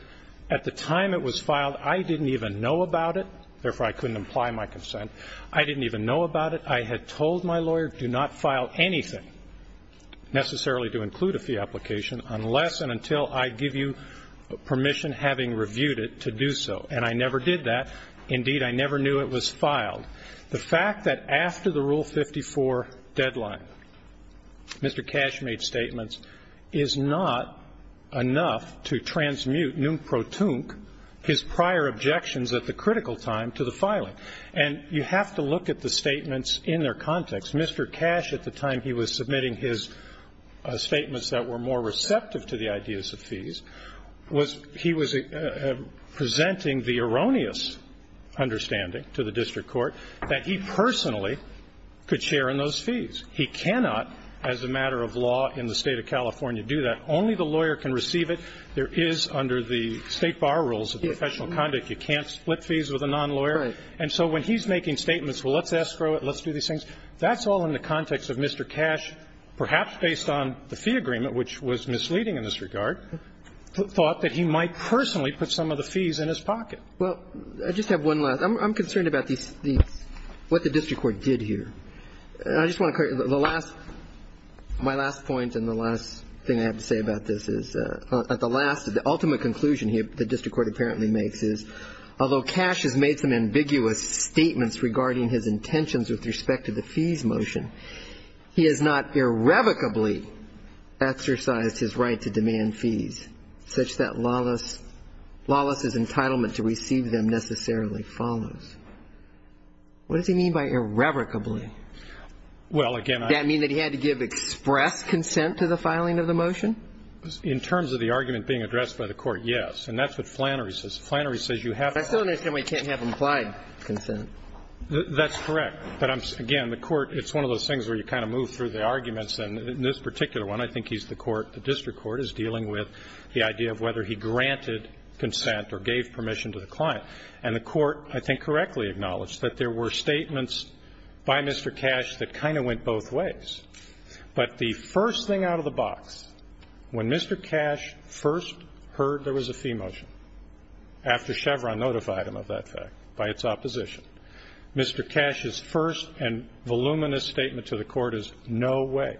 at the time it was filed, I didn't even know about it, therefore I couldn't imply my consent. I didn't even know about it. I had told my lawyer, do not file anything necessarily to include a fee application unless and until I give you permission, having reviewed it, to do so. And I never did that. Indeed, I never knew it was filed. The fact that after the Rule 54 deadline, Mr. Cash made statements, is not enough to transmute numprotunc, his prior objections at the critical time, to the filing. And you have to look at the statements in their context. Mr. Cash, at the time he was submitting his statements that were more receptive to the ideas of fees, he was presenting the erroneous understanding to the district court that he personally could share in those fees. He cannot, as a matter of law in the state of California, do that. Only the lawyer can receive it. There is, under the state bar rules of professional conduct, you can't split fees with a non-lawyer. And so when he's making statements, well, let's escrow it, let's do these things, that's all in the context of Mr. Cash, perhaps based on the fee agreement, which was misleading in this regard, thought that he might personally put some of the fees in his pocket. Well, I just have one last. I'm concerned about these fees, what the district court did here. And I just want to, the last, my last point and the last thing I have to say about this is, at the last, the ultimate conclusion the district court apparently makes is, although Cash has made some ambiguous statements regarding his intentions with respect to the fees motion, he has not irrevocably exercised his right to demand fees, such that Lawless, Lawless's entitlement to receive them necessarily follows. What does he mean by irrevocably? Well, again, I... Does that mean that he had to give express consent to the filing of the motion? In terms of the argument being addressed by the court, yes. And that's what Flannery says. Flannery says you have... I still don't understand why you can't have implied consent. That's correct. But, again, the court, it's one of those things where you kind of move through the arguments. And in this particular one, I think he's the court, the district court, is dealing with the idea of whether he granted consent or gave permission to the client. And the court, I think, correctly acknowledged that there were statements by Mr. Cash that kind of went both ways. But the first thing out of the box, when Mr. Cash first heard there was a fee motion, after Chevron notified him of that fact by its opposition, Mr. Cash's first and voluminous statement to the court is, no way,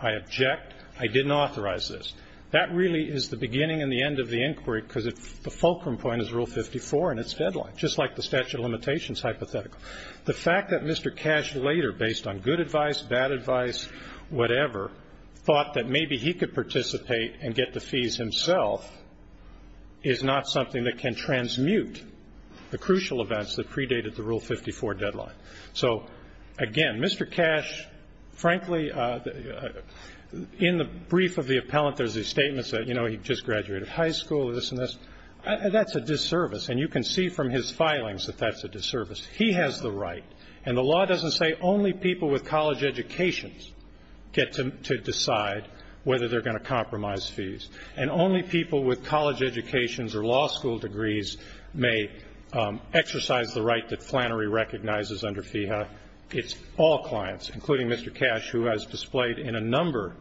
I object, I didn't authorize this. That really is the beginning and the end of the inquiry, because the fulcrum point is Rule 54 and its deadline, just like the statute of limitations hypothetical. The fact that Mr. Cash later, based on good advice, bad advice, whatever, thought that maybe he could participate and get the fees himself is not something that can transmute the crucial events that predated the Rule 54 deadline. So, again, Mr. Cash, frankly, in the brief of the appellant, there's these statements that, you know, he just graduated high school, this and this. That's a disservice, and you can see from his filings that that's a disservice. He has the right. And the law doesn't say only people with college educations get to decide whether they're going to compromise fees. And only people with college educations or law school degrees may exercise the right that Flannery recognizes under FEHA. It's all clients, including Mr. Cash, who has displayed in a number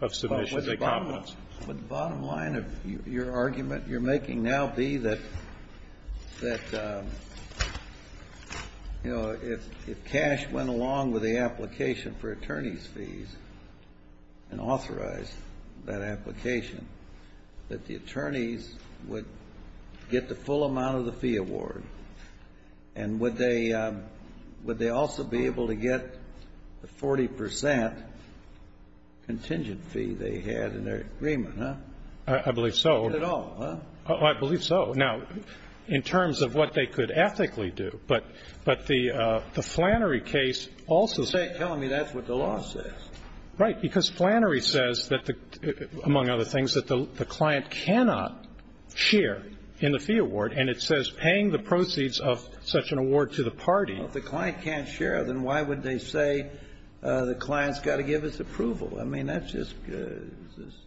of submissions that there was a compromise. Would the bottom line of your argument you're making now be that, you know, if Cash went along with the application for attorney's fees and authorized that application, that the attorneys would get the full amount of the fee award? And would they also be able to get the 40 percent contingent fee they had in their agreement, huh? I believe so. Get it all, huh? I believe so. Now, in terms of what they could ethically do, but the Flannery case also said… You're telling me that's what the law says. Right, because Flannery says that, among other things, that the client cannot share in the fee award. And it says paying the proceeds of such an award to the party… Well, if the client can't share, then why would they say the client's got to give his approval? I mean, that's just…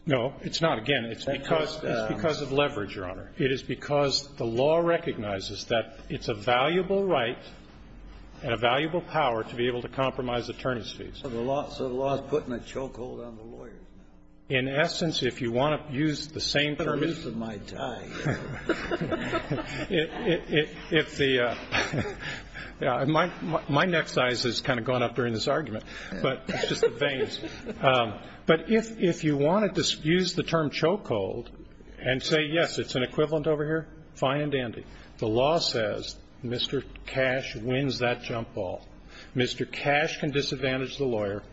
No, it's not. Again, it's because of leverage, Your Honor. It is because the law recognizes that it's a valuable right and a valuable power to be able to compromise attorney's fees. So the law is putting a chokehold on the lawyer. In essence, if you want to use the same term… My ears are going to die. My neck size has kind of gone up during this argument, but it's just the veins. But if you wanted to use the term chokehold and say, yes, it's an equivalent over here, fine and dandy. The law says Mr. Cash wins that jump ball. Mr. Cash can disadvantage the lawyer.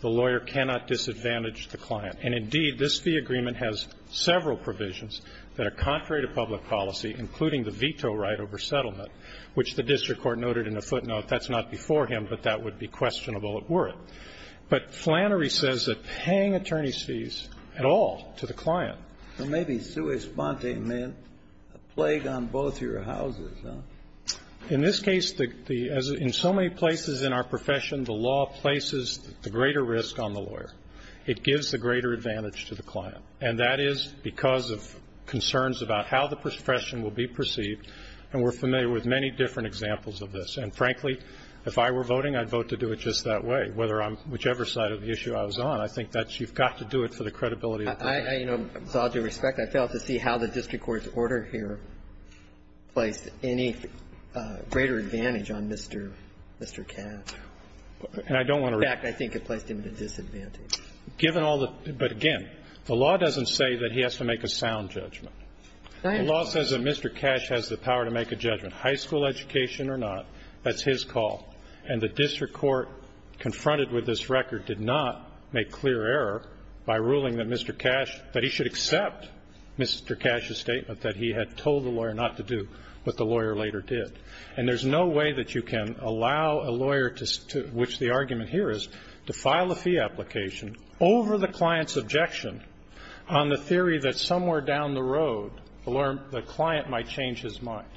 The lawyer cannot disadvantage the client. And indeed, this fee agreement has several provisions that are contrary to public policy, including the veto right over settlement, which the district court noted in a footnote. That's not before him, but that would be questionable if were it. But Flannery says that paying attorney's fees at all to the client… Well, maybe sui sponte meant a plague on both your houses, huh? In this case, in so many places in our profession, the law places the greater risk on the lawyer. It gives the greater advantage to the client. And that is because of concerns about how the profession will be perceived. And we're familiar with many different examples of this. And frankly, if I were voting, I'd vote to do it just that way, whichever side of the issue I was on. I think that you've got to do it for the credibility of the client. With all due respect, I failed to see how the district court's order here placed any greater advantage on Mr. Cash. And I don't want to… In fact, I think it placed him at a disadvantage. Given all the – but again, the law doesn't say that he has to make a sound judgment. The law says that Mr. Cash has the power to make a judgment, high school education or not. That's his call. And the district court confronted with this record did not make clear error by ruling that Mr. Cash – that he should accept Mr. Cash's statement that he had told the lawyer not to do what the lawyer later did. And there's no way that you can allow a lawyer, which the argument here is, to file a fee application over the client's objection on the theory that somewhere down the road, the client might change his mind.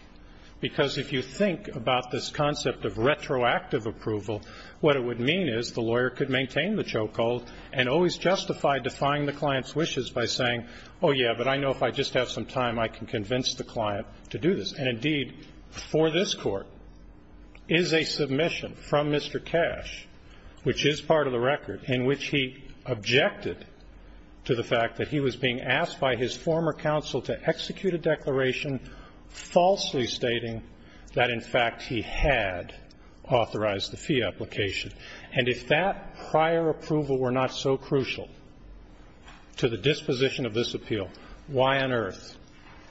Because if you think about this concept of retroactive approval, what it would mean is the lawyer could maintain the chokehold and always justify defying the client's wishes by saying, oh, yeah, but I know if I just have some time, I can convince the client to do this. And indeed, for this court, is a submission from Mr. Cash, which is part of the record in which he objected to the fact that he was being asked by his former counsel to execute a declaration falsely stating that, in fact, he had authorized the fee application. And if that prior approval were not so crucial to the disposition of this appeal, why on earth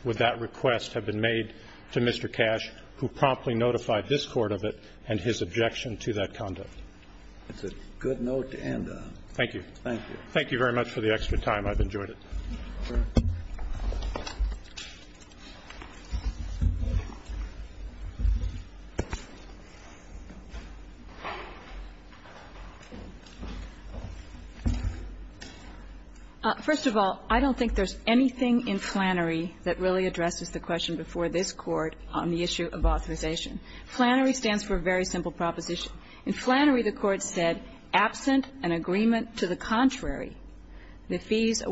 would that request have been made to Mr. Cash, who promptly notified this Court of it and his objection to that conduct? It's a good note to end on. Thank you. Thank you. Thank you very much for the extra time. I've enjoyed it. First of all, I don't think there's anything in Flannery that really addresses the question before this Court on the issue of authorization. Flannery stands for a very simple proposition. In Flannery, the Court said, absent an agreement to the contrary, authorization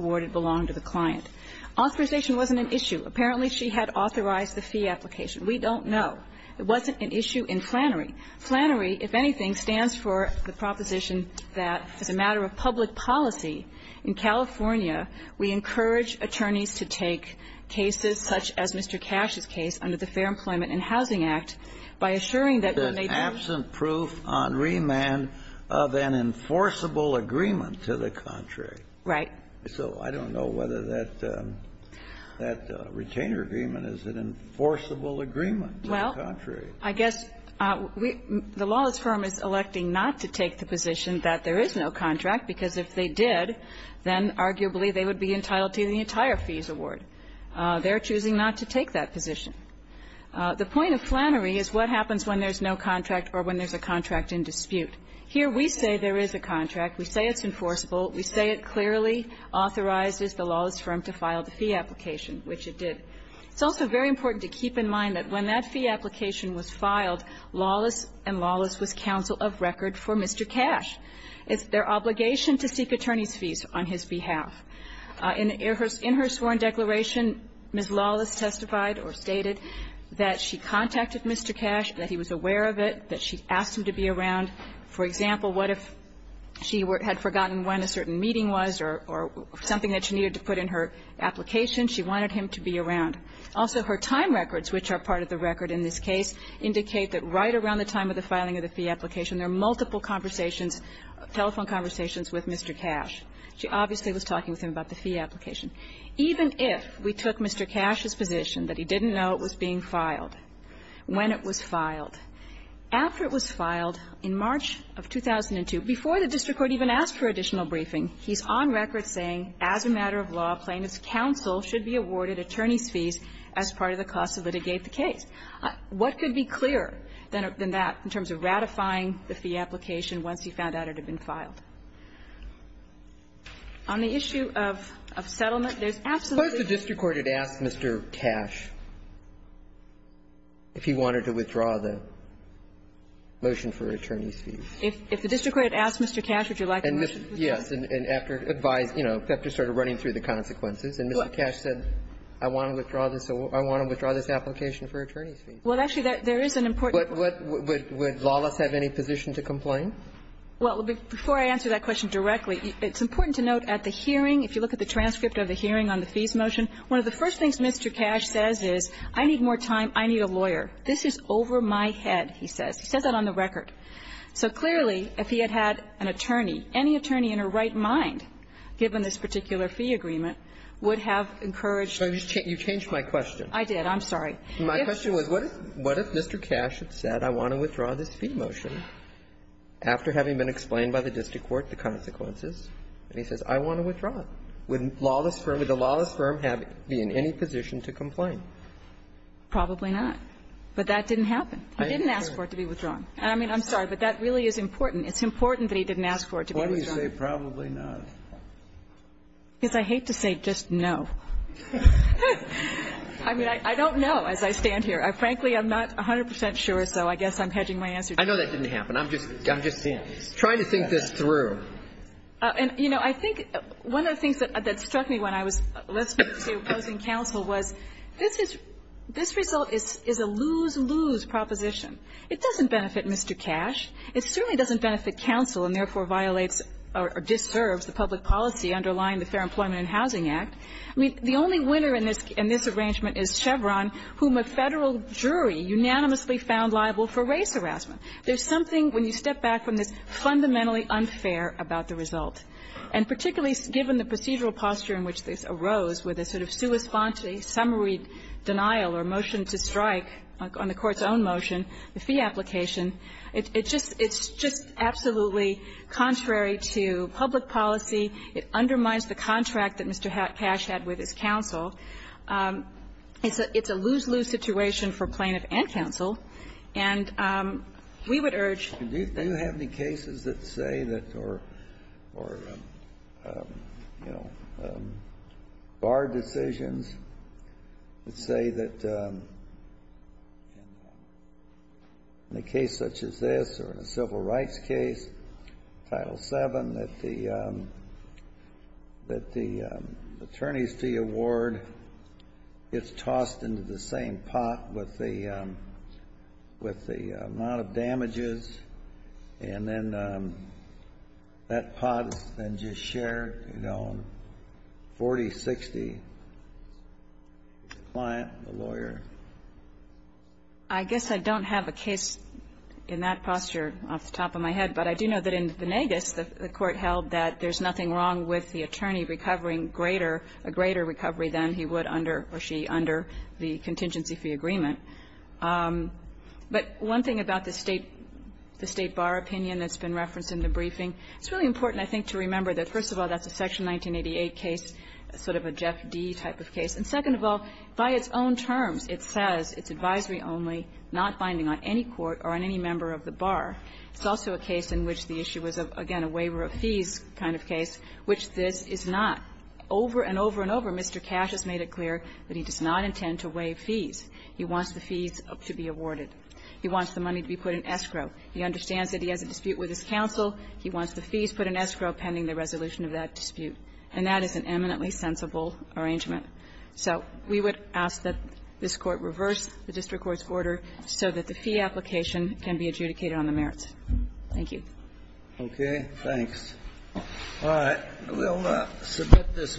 wasn't an issue. Apparently, she had authorized the fee application. We don't know. It wasn't an issue in Flannery. Flannery, if anything, stands for the proposition that, as a matter of public policy in California, we encourage attorneys to take cases such as Mr. Cash's case under the Fair Employment and Housing Act by assuring that when they do. Absent proof on remand of an enforceable agreement to the contrary. Right. So I don't know whether that retainer agreement is an enforceable agreement to the contrary. Well, I guess the lawless firm is electing not to take the position that there is no contract, because if they did, then arguably they would be entitled to the entire fees award. They're choosing not to take that position. The point of Flannery is what happens when there's no contract or when there's a contract in dispute. Here we say there is a contract. We say it's enforceable. We say it clearly authorizes the lawless firm to file the fee application, which it did. It's also very important to keep in mind that when that fee application was filed, lawless and lawless was counsel of record for Mr. Cash. It's their obligation to seek attorney's fees on his behalf. In her sworn declaration, Ms. Lawless testified or stated that she contacted Mr. Cash, that he was aware of it, that she asked him to be around. For example, what if she had forgotten when a certain meeting was or something that she needed to put in her application? She wanted him to be around. Also, her time records, which are part of the record in this case, indicate that right around the time of the filing of the fee application, there are multiple conversations, telephone conversations with Mr. Cash. She obviously was talking with him about the fee application. Even if we took Mr. Cash's position that he didn't know it was being filed, when it was filed, after it was filed in March of 2002, before the district court even asked for additional briefing, he's on record saying, as a matter of law, plaintiff's counsel should be awarded attorney's fees as part of the cost to litigate the case. What could be clearer than that in terms of ratifying the fee application once he found out it had been filed? On the issue of settlement, there's absolutely no question. If the district court had asked Mr. Cash if he wanted to withdraw the motion for attorney's fees. If the district court had asked Mr. Cash, would you like a motion to withdraw? Yes. And after advice, you know, after sort of running through the consequences, and Mr. Cash said, I want to withdraw this, I want to withdraw this application for attorney's fees. Well, actually, there is an important point. Would lawless have any position to complain? Well, before I answer that question directly, it's important to note at the hearing, if you look at the transcript of the hearing on the fees motion, one of the first things Mr. Cash says is, I need more time, I need a lawyer. This is over my head, he says. He says that on the record. So clearly, if he had had an attorney, any attorney in her right mind, given this particular fee agreement, would have encouraged. You changed my question. I did. I'm sorry. My question was, what if Mr. Cash had said, I want to withdraw this fee motion, after having been explained by the district court the consequences, and he says, I want to withdraw it. Would lawless firm, would the lawless firm be in any position to complain? Probably not. But that didn't happen. He didn't ask for it to be withdrawn. And I mean, I'm sorry, but that really is important. It's important that he didn't ask for it to be withdrawn. Why do you say probably not? Because I hate to say just no. I mean, I don't know as I stand here. Frankly, I'm not 100 percent sure, so I guess I'm hedging my answer. I know that didn't happen. I'm just saying. Try to think this through. And, you know, I think one of the things that struck me when I was, let's say, opposing counsel was, this is, this result is a lose-lose proposition. It doesn't benefit Mr. Cash. It certainly doesn't benefit counsel and therefore violates or disturbs the public policy underlying the Fair Employment and Housing Act. The only winner in this arrangement is Chevron, whom a Federal jury unanimously found liable for race harassment. There's something, when you step back from this, fundamentally unfair about the result. And particularly given the procedural posture in which this arose, with a sort of sui sponte summary denial or motion to strike on the Court's own motion, the fee application, it just, it's just absolutely contrary to public policy. It undermines the contract that Mr. Cash had with his counsel. It's a, it's a lose-lose situation for plaintiff and counsel. And we would urge that. Do you have any cases that say that, or, or, you know, bar decisions that say that in a case such as this or in a civil rights case, Title VII, that the, that the attorneys receive the award. It's tossed into the same pot with the, with the amount of damages. And then that pot is then just shared, you know, 40-60, the client, the lawyer. I guess I don't have a case in that posture off the top of my head. But I do know that in Venegas, the Court held that there's nothing wrong with the case, and that the client would have a much greater recovery than he would under or she under the contingency fee agreement. But one thing about the State, the State bar opinion that's been referenced in the briefing, it's really important, I think, to remember that, first of all, that's a Section 1988 case, sort of a Jeff D. type of case. And second of all, by its own terms, it says it's advisory only, not binding on any court or on any member of the bar. It's also a case in which the issue was, again, a waiver of fees kind of case, which this is not. Over and over and over, Mr. Cash has made it clear that he does not intend to waive fees. He wants the fees to be awarded. He wants the money to be put in escrow. He understands that he has a dispute with his counsel. He wants the fees put in escrow pending the resolution of that dispute. And that is an eminently sensible arrangement. So we would ask that this Court reverse the district court's order so that the fee application can be adjudicated on the merits. Thank you. Okay. Thanks. All right. We'll submit this matter.